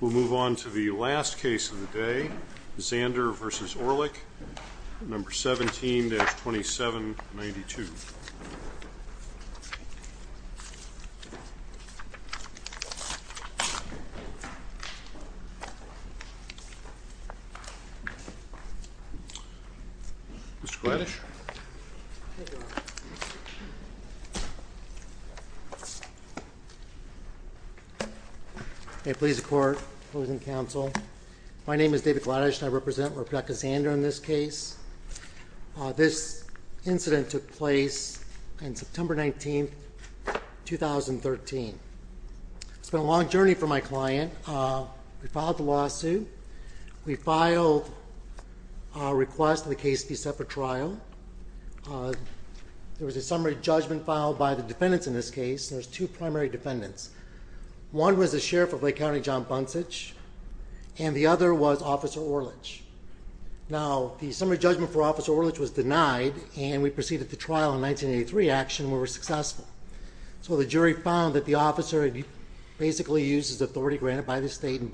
We'll move on to the last case of the day, Zander v. Orlich, No. 17-2792. Mr. Gladish. May it please the Court, members of the Council, my name is David Gladish and I represent Rep. Zander in this case. This incident took place on September 19, 2013. It's been a long journey for my client. We filed the lawsuit. We filed a request for the case to be set for trial. There was a summary judgment filed by the defendants in this case. There were two primary defendants. One was the Sheriff of Lake County, John Buncich, and the other was Officer Orlich. Now, the summary judgment for Officer Orlich was denied and we proceeded to trial in 1983 action where we were successful. So the jury found that the officer had basically used his authority granted by the state and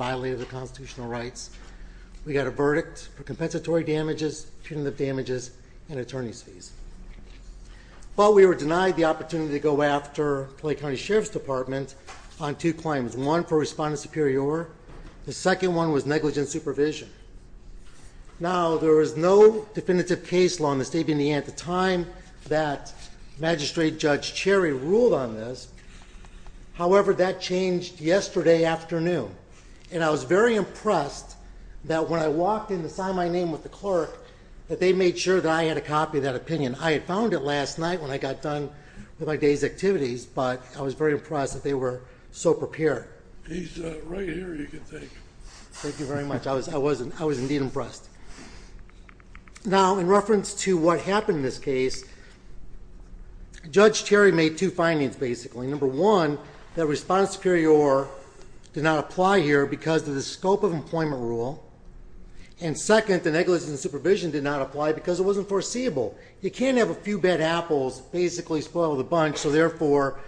We got a verdict for compensatory damages, punitive damages, and attorney's fees. But we were denied the opportunity to go after Lake County Sheriff's Department on two claims. One for respondent superior. The second one was negligent supervision. Now, there was no definitive case law in the state of Indiana at the time that Magistrate Judge Cherry ruled on this. However, that changed yesterday afternoon. And I was very impressed that when I walked in to sign my name with the clerk that they made sure that I had a copy of that opinion. I had found it last night when I got done with my day's activities, but I was very impressed that they were so prepared. He's right here, you can thank him. Thank you very much. I was indeed impressed. Now, in reference to what happened in this case, Judge Cherry made two findings, basically. Number one, that respondent superior did not apply here because of the scope of employment rule. And second, the negligent supervision did not apply because it wasn't foreseeable. You can't have a few bad apples basically spoil the bunch, so therefore,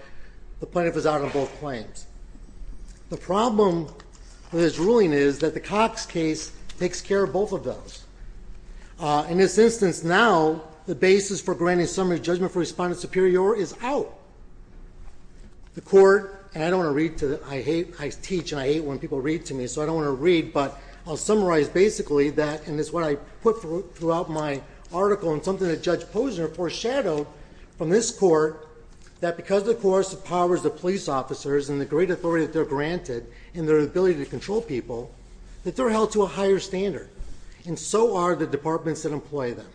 the plaintiff was out on both claims. The problem with his ruling is that the Cox case takes care of both of those. In this instance now, the basis for granting summary judgment for respondent superior is out. The court, and I don't want to read to the, I hate, I teach and I hate when people read to me, so I don't want to read, but I'll summarize basically that, and it's what I put throughout my article and something that Judge Posner foreshadowed from this court, that because of the coercive powers of police officers and the great authority that they're granted and their ability to control people, that they're held to a higher standard. And so are the departments that employ them.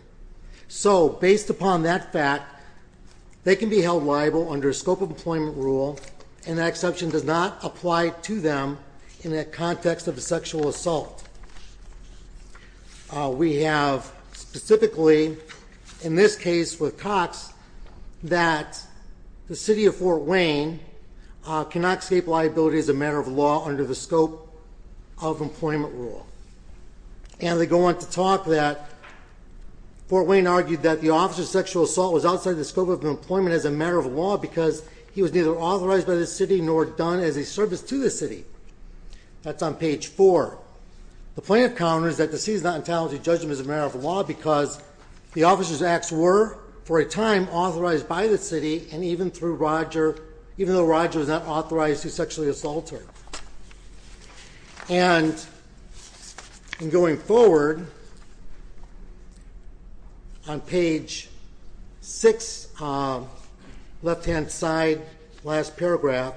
So, based upon that fact, they can be held liable under scope of employment rule, and that exception does not apply to them in the context of a sexual assault. We have specifically, in this case with Cox, that the city of Fort Wayne cannot escape liability as a matter of law under the scope of employment rule. And they go on to talk that Fort Wayne argued that the officer's sexual assault was outside the scope of employment as a matter of law because he was neither authorized by the city nor done as a service to the city. That's on page four. The plaintiff counters that the city is not entitled to judge him as a matter of law because the officer's acts were, for a time, authorized by the city and even through Roger, even though Roger was not authorized to sexually assault her. And, going forward, on page six, left-hand side, last paragraph,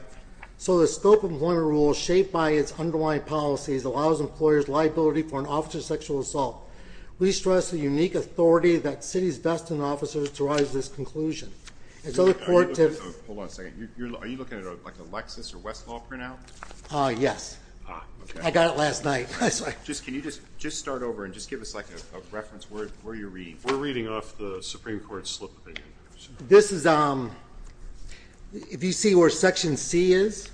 so the scope of employment rule, shaped by its underlying policies, allows employers liability for an officer's sexual assault. We stress the unique authority that cities best in officers to rise to this conclusion. Hold on a second. Are you looking at a Lexus or Westlaw printout? Yes. Ah, okay. I got it last night. Can you just start over and just give us a reference where you're reading? We're reading off the Supreme Court slip. This is, if you see where section C is,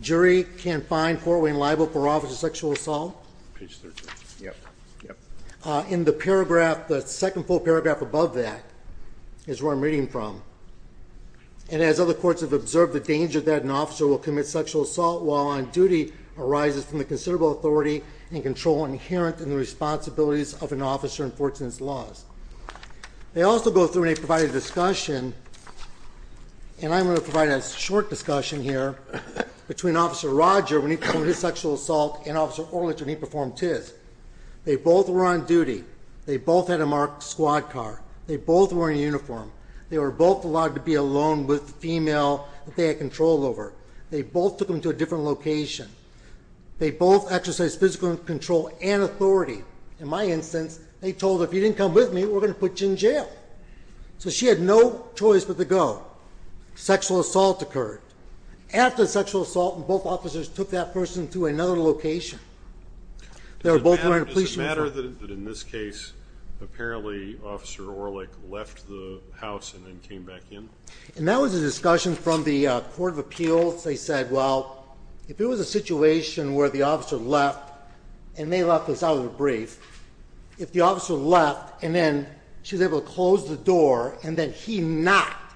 jury can find Fort Wayne liable for officer's sexual assault. Page 13. Yep. Yep. In the paragraph, the second full paragraph above that, is where I'm reading from. And, as other courts have observed, the danger that an officer will commit sexual assault while on duty arises from the considerable authority and control inherent in the responsibilities of an officer in Fort's laws. They also go through and they provide a discussion, and I'm going to provide a short discussion here, between Officer Roger when he performed his sexual assault and Officer Orlich when he performed his. They both were on duty. They both had a marked squad car. They both were in uniform. They were both allowed to be alone with the female that they had control over. They both took them to a different location. They both exercised physical control and authority. In my instance, they told her, if you didn't come with me, we're going to put you in jail. So, she had no choice but to go. Sexual assault occurred. After the sexual assault, both officers took that person to another location. They were both wearing a police uniform. Does it matter that in this case, apparently Officer Orlich left the house and then came back in? And that was a discussion from the Court of Appeals. They said, well, if it was a situation where the officer left, and they left this out of a brief, if the officer left and then she was able to close the door and then he knocked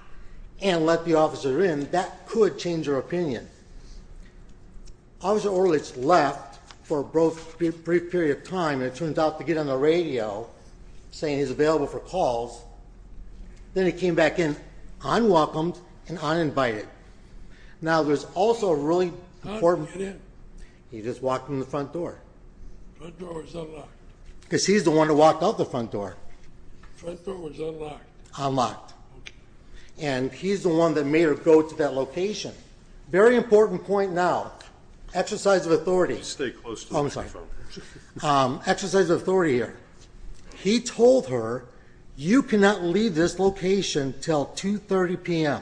and let the officer in, that could change her opinion. Officer Orlich left for a brief period of time and it turns out to get on the radio saying he's available for calls. Then he came back in unwelcomed and uninvited. Now, there's also a really important... How did he get in? He just walked in the front door. The front door was unlocked. Because he's the one that walked out the front door. The front door was unlocked. Unlocked. And he's the one that made her go to that location. Very important point now. Exercise of authority. Stay close to the front door. Oh, I'm sorry. Exercise of authority here. He told her, you cannot leave this location until 2.30 p.m.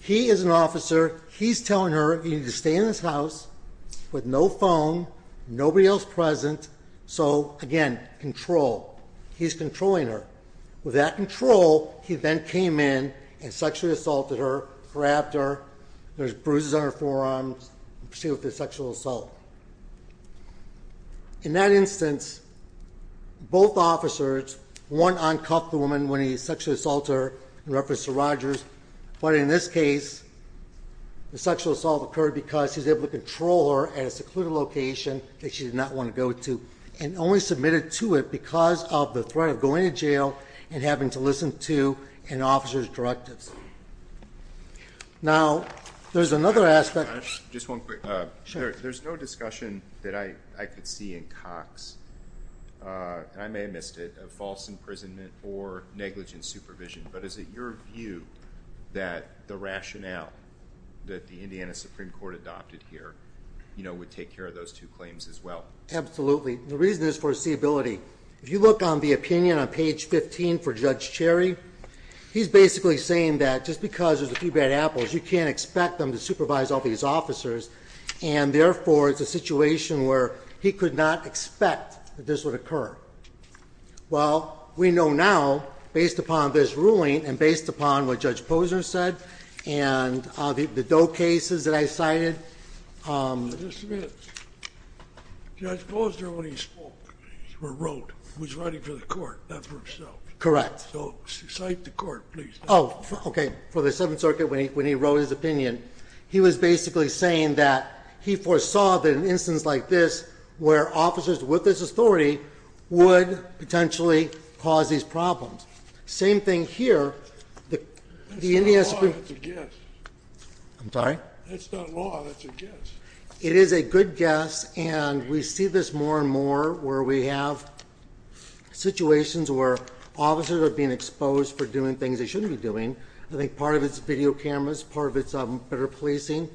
He is an officer. He's telling her, you need to stay in this house with no phone, nobody else present. So, again, control. He's controlling her. With that control, he then came in and sexually assaulted her, grabbed her. There's bruises on her forearms. She was sexually assaulted. In that instance, both officers, one uncuffed the woman when he sexually assaulted her in reference to Rogers. But in this case, the sexual assault occurred because he was able to control her at a secluded location that she did not want to go to. And only submitted to it because of the threat of going to jail and having to listen to an officer's directives. Now, there's another aspect. Just one quick. Sure. There's no discussion that I could see in Cox, and I may have missed it, of false imprisonment or negligent supervision. But is it your view that the rationale that the Indiana Supreme Court adopted here, you know, would take care of those two claims as well? Absolutely. The reason is foreseeability. If you look on the opinion on page 15 for Judge Cherry, he's basically saying that just because there's a few bad apples, you can't expect them to supervise all these officers, and therefore it's a situation where he could not expect that this would occur. Well, we know now, based upon this ruling and based upon what Judge Posner said and the Doe cases that I cited. Just a minute. Judge Posner, when he spoke or wrote, was writing for the court, not for himself. Correct. So cite the court, please. Oh, okay. For the Seventh Circuit, when he wrote his opinion, he was basically saying that he foresaw that an instance like this, where officers with this authority would potentially cause these problems. Same thing here. That's not law, that's a guess. I'm sorry? That's not law, that's a guess. It is a good guess, and we see this more and more where we have situations where officers are being exposed for doing things they shouldn't be doing. I think part of it's video cameras, part of it's better policing.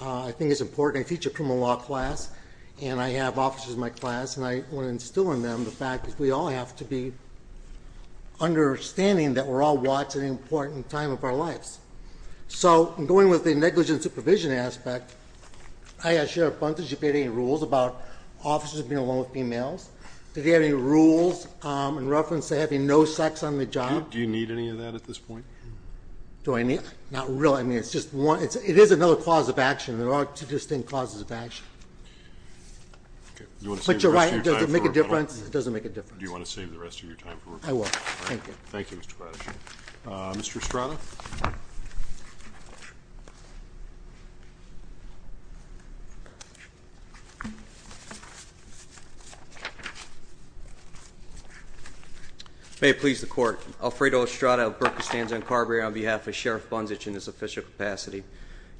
I think it's important. I teach a criminal law class, and I have officers in my class, and I want to instill in them the fact that we all have to be understanding that we're all watching an important time of our lives. So going with the negligent supervision aspect, I asked Sheriff Bunton if he had any rules about officers being alone with females. Did he have any rules in reference to having no sex on the job? Do you need any of that at this point? Do I need it? Not really. I mean, it's just one. It is another cause of action. There are two distinct causes of action. Okay. Do you want to save the rest of your time for rebuttal? Does it make a difference? It doesn't make a difference. Do you want to save the rest of your time for rebuttal? I will. Thank you. Thank you, Mr. Braddock. Mr. Estrada. May it please the Court. Alfredo Estrada of Berkestanza and Carberry on behalf of Sheriff Bunzich in his official capacity.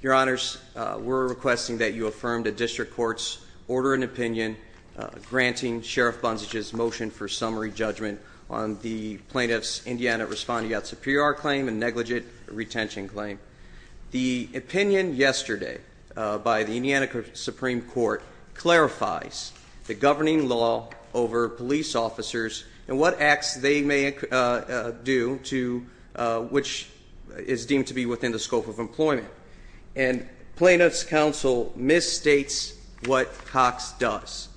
Your Honors, we're requesting that you affirm the district court's order and opinion granting Sheriff Bunzich's motion for summary judgment on the plaintiff's Indiana respondeat superior claim and negligent retention claim. The opinion yesterday by the Indiana Supreme Court clarifies the governing law over police officers and what acts they may do which is deemed to be within the scope of employment. And plaintiff's counsel misstates what Cox does.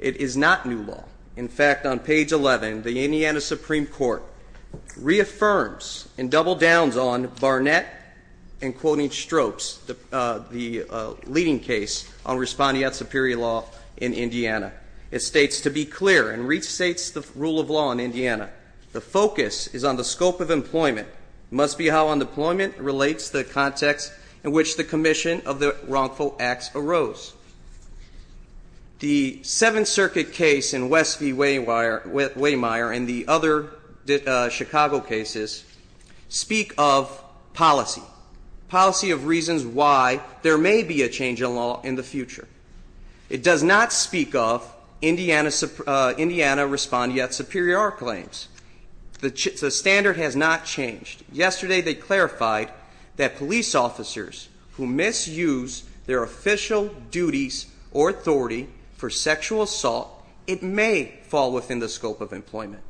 It is not new law. In fact, on page 11, the Indiana Supreme Court reaffirms and double downs on Barnett and quoting Strokes, the leading case on respondeat superior law in Indiana. It states, to be clear, and restates the rule of law in Indiana, the focus is on the scope of employment. It must be how unemployment relates to the context in which the commission of the wrongful acts arose. The Seventh Circuit case in West v. Waymire and the other Chicago cases speak of policy, policy of reasons why there may be a change in law in the future. It does not speak of Indiana respondeat superior claims. The standard has not changed. Yesterday they clarified that police officers who misuse their official duties or authority for sexual assault, it may fall within the scope of employment.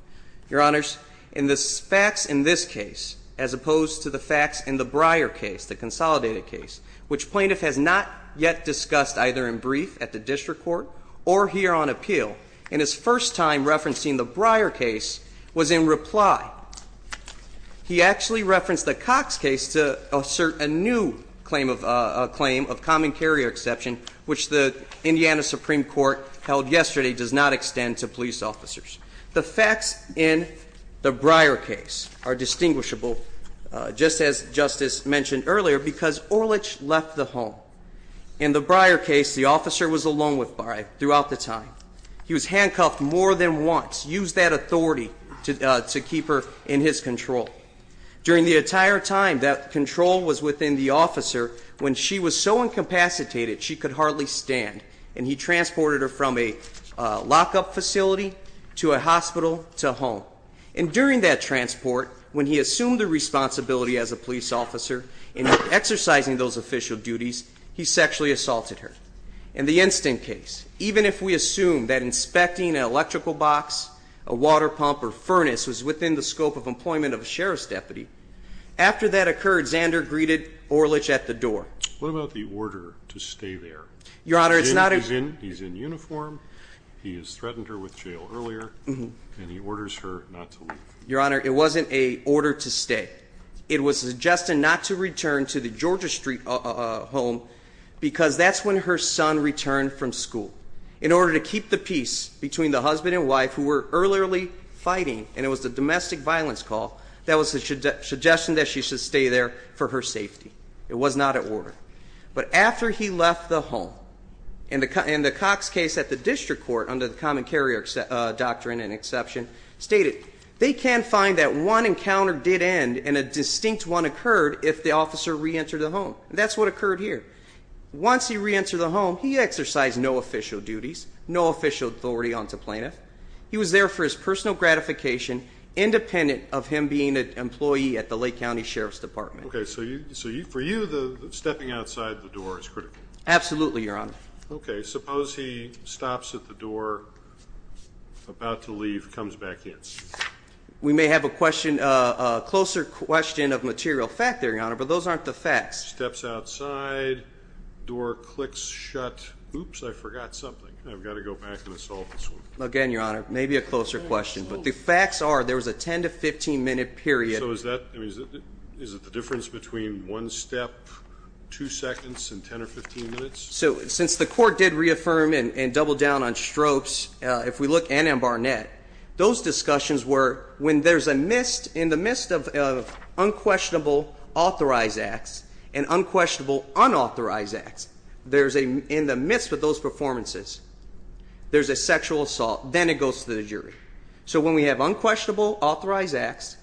Your Honors, in the facts in this case as opposed to the facts in the Breyer case, the consolidated case, which plaintiff has not yet discussed either in brief at the district court or here on appeal, and his first time referencing the Breyer case was in reply. He actually referenced the Cox case to assert a new claim of common carrier exception, which the Indiana Supreme Court held yesterday does not extend to police officers. The facts in the Breyer case are distinguishable, just as Justice mentioned earlier, because Orlich left the home. In the Breyer case, the officer was alone with Breyer throughout the time. He was handcuffed more than once, used that authority to keep her in his control. During the entire time that control was within the officer, when she was so incapacitated, she could hardly stand. And he transported her from a lockup facility to a hospital to home. And during that transport, when he assumed the responsibility as a police officer in exercising those official duties, he sexually assaulted her. In the instant case, even if we assume that inspecting an electrical box, a water pump, or furnace was within the scope of employment of a sheriff's deputy, after that occurred, Zander greeted Orlich at the door. What about the order to stay there? Your Honor, it's not a... He's in uniform, he has threatened her with jail earlier, and he orders her not to leave. Your Honor, it wasn't an order to stay. It was suggested not to return to the Georgia Street home because that's when her son returned from school. In order to keep the peace between the husband and wife who were earlier fighting, and it was a domestic violence call, that was the suggestion that she should stay there for her safety. It was not an order. But after he left the home, in the Cox case at the district court, under the common carrier doctrine and exception, stated, they can find that one encounter did end and a distinct one occurred if the officer reentered the home. That's what occurred here. Once he reentered the home, he exercised no official duties, no official authority onto plaintiff. He was there for his personal gratification, independent of him being an employee at the Lake County Sheriff's Department. Okay, so for you, stepping outside the door is critical. Absolutely, Your Honor. Okay, suppose he stops at the door, about to leave, comes back in. We may have a closer question of material fact there, Your Honor, but those aren't the facts. Steps outside, door clicks shut. Oops, I forgot something. I've got to go back and solve this one. Again, Your Honor, maybe a closer question. But the facts are there was a 10 to 15-minute period. So is it the difference between one step, two seconds, and 10 or 15 minutes? So since the court did reaffirm and double down on stropes, if we look in Barnett, those discussions were when there's a missed, in the midst of unquestionable authorized acts and unquestionable unauthorized acts, there's a, in the midst of those performances, there's a sexual assault, then it goes to the jury. So when we have unquestionable authorized acts,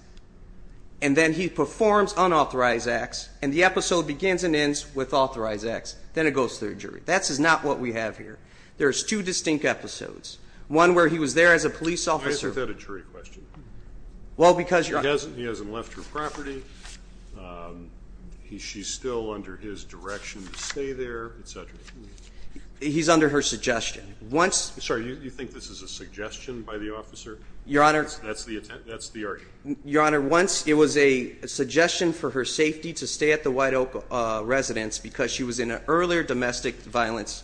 and then he performs unauthorized acts, and the episode begins and ends with authorized acts, then it goes to the jury. That is not what we have here. There's two distinct episodes. One where he was there as a police officer. Why is that a jury question? Well, because Your Honor He hasn't left her property. She's still under his direction to stay there, et cetera. He's under her suggestion. Sorry, you think this is a suggestion by the officer? Your Honor. That's the argument. Your Honor, once it was a suggestion for her safety to stay at the White Oak residence because she was in an earlier domestic violence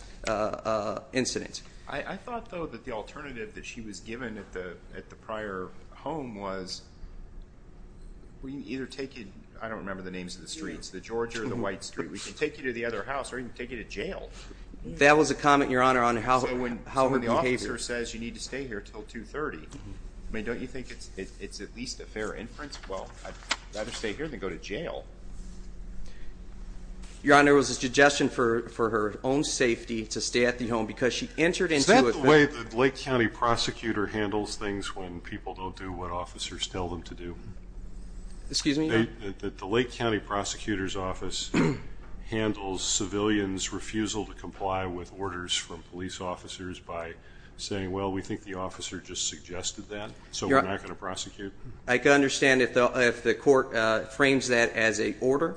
incident. I thought, though, that the alternative that she was given at the prior home was we can either take you, I don't remember the names of the streets, the Georgia or the White Street, we can take you to the other house or even take you to jail. That was a comment, Your Honor, on how her behavior. So when the officer says you need to stay here until 2.30, I mean, don't you think it's at least a fair inference? Well, I'd rather stay here than go to jail. Your Honor, it was a suggestion for her own safety to stay at the home because she entered into it. Is that the way the Lake County prosecutor handles things when people don't do what officers tell them to do? Excuse me? The Lake County prosecutor's office handles civilians' refusal to comply with orders from police officers by saying, well, we think the officer just suggested that, so we're not going to prosecute. I can understand if the court frames that as a order,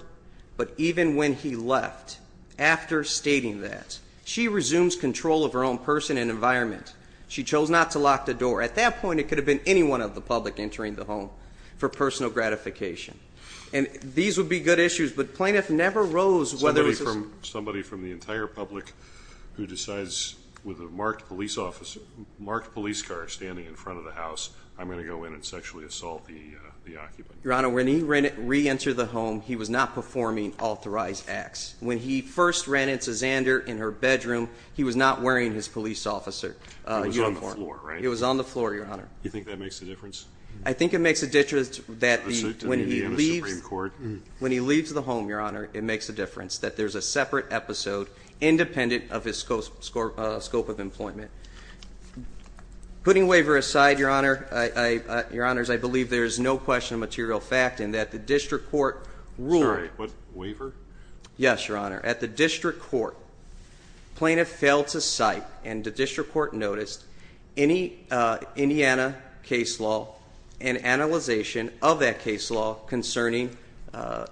but even when he left after stating that, she resumes control of her own person and environment. She chose not to lock the door. At that point, it could have been anyone of the public entering the home for personal gratification. And these would be good issues, but plaintiff never rose whether it was a ---- marked police car standing in front of the house. I'm going to go in and sexually assault the occupant. Your Honor, when he reentered the home, he was not performing authorized acts. When he first ran into Xander in her bedroom, he was not wearing his police officer uniform. He was on the floor, right? He was on the floor, Your Honor. You think that makes a difference? Your Honor, it makes a difference that there's a separate episode independent of his scope of employment. Putting waiver aside, Your Honor, I believe there is no question of material fact in that the district court ruled. Sorry, what? Waiver? Yes, Your Honor. At the district court, plaintiff failed to cite and the district court noticed any Indiana case law and analyzation of that case law concerning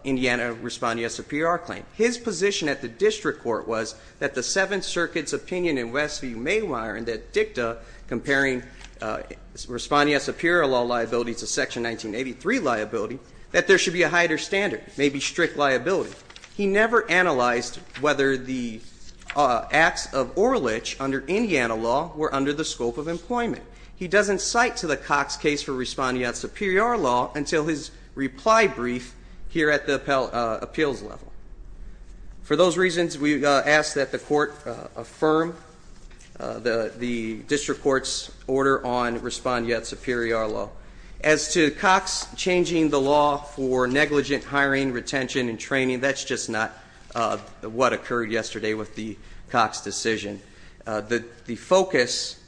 Indiana Respondee S.A.P.R. claim. His position at the district court was that the Seventh Circuit's opinion in Westview Mayweather and that dicta comparing Respondee S.A.P.R. law liability to Section 1983 liability, that there should be a higher standard, maybe strict liability. He never analyzed whether the acts of oral itch under Indiana law were under the scope of employment. He doesn't cite to the Cox case for Respondee S.A.P.R. law until his reply brief here at the appeals level. For those reasons, we ask that the court affirm the district court's order on Respondee S.A.P.R. law. As to Cox changing the law for negligent hiring, retention, and training, that's just not what occurred yesterday with the Cox decision. The focus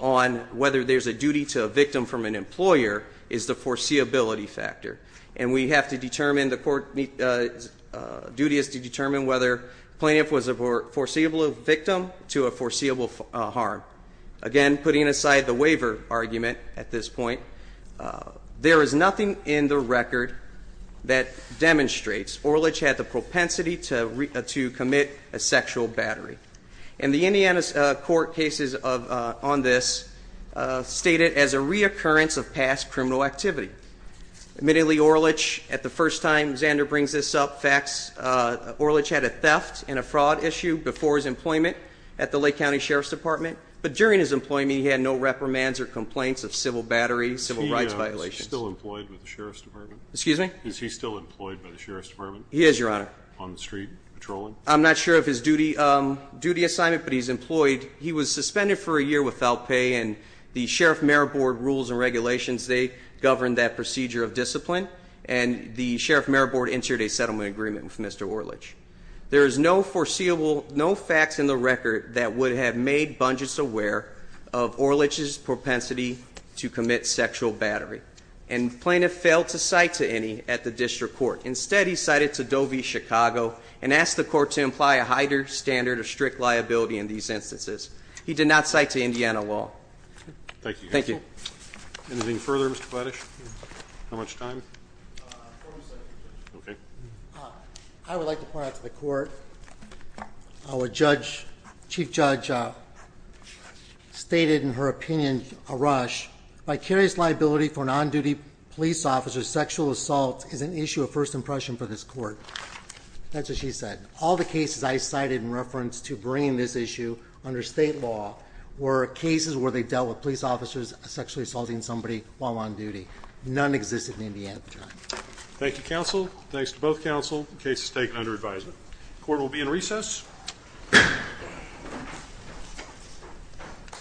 on whether there's a duty to a victim from an employer is the foreseeability factor. And the court's duty is to determine whether plaintiff was a foreseeable victim to a foreseeable harm. Again, putting aside the waiver argument at this point, there is nothing in the record that demonstrates Orlich had the propensity to commit a sexual battery. And the Indiana court cases on this state it as a reoccurrence of past criminal activity. Admittedly, Orlich, at the first time, Xander brings this up, Orlich had a theft and a fraud issue before his employment at the Lake County Sheriff's Department. But during his employment, he had no reprimands or complaints of civil battery, civil rights violations. Is he still employed with the Sheriff's Department? Excuse me? Is he still employed by the Sheriff's Department? He is, Your Honor. On the street, patrolling? I'm not sure of his duty assignment, but he's employed. He was suspended for a year without pay, and the Sheriff-Mayor Board rules and regulations, they govern that procedure of discipline. And the Sheriff-Mayor Board entered a settlement agreement with Mr. Orlich. There is no foreseeable, no facts in the record that would have made Bungess aware of Orlich's propensity to commit sexual battery. And the plaintiff failed to cite to any at the district court. Instead, he cited to Doe v. Chicago and asked the court to imply a higher standard of strict liability in these instances. He did not cite to Indiana law. Thank you. Thank you. Anything further, Mr. Kledisch? How much time? 40 seconds. Okay. I would like to point out to the court what Chief Judge stated in her opinion, Arush. Vicarious liability for non-duty police officers' sexual assault is an issue of first impression for this court. That's what she said. All the cases I cited in reference to bringing this issue under state law were cases where they dealt with police officers sexually assaulting somebody while on duty. None existed in Indiana at the time. Thank you, counsel. Thanks to both counsel. Case is taken under advisement. Court will be in recess.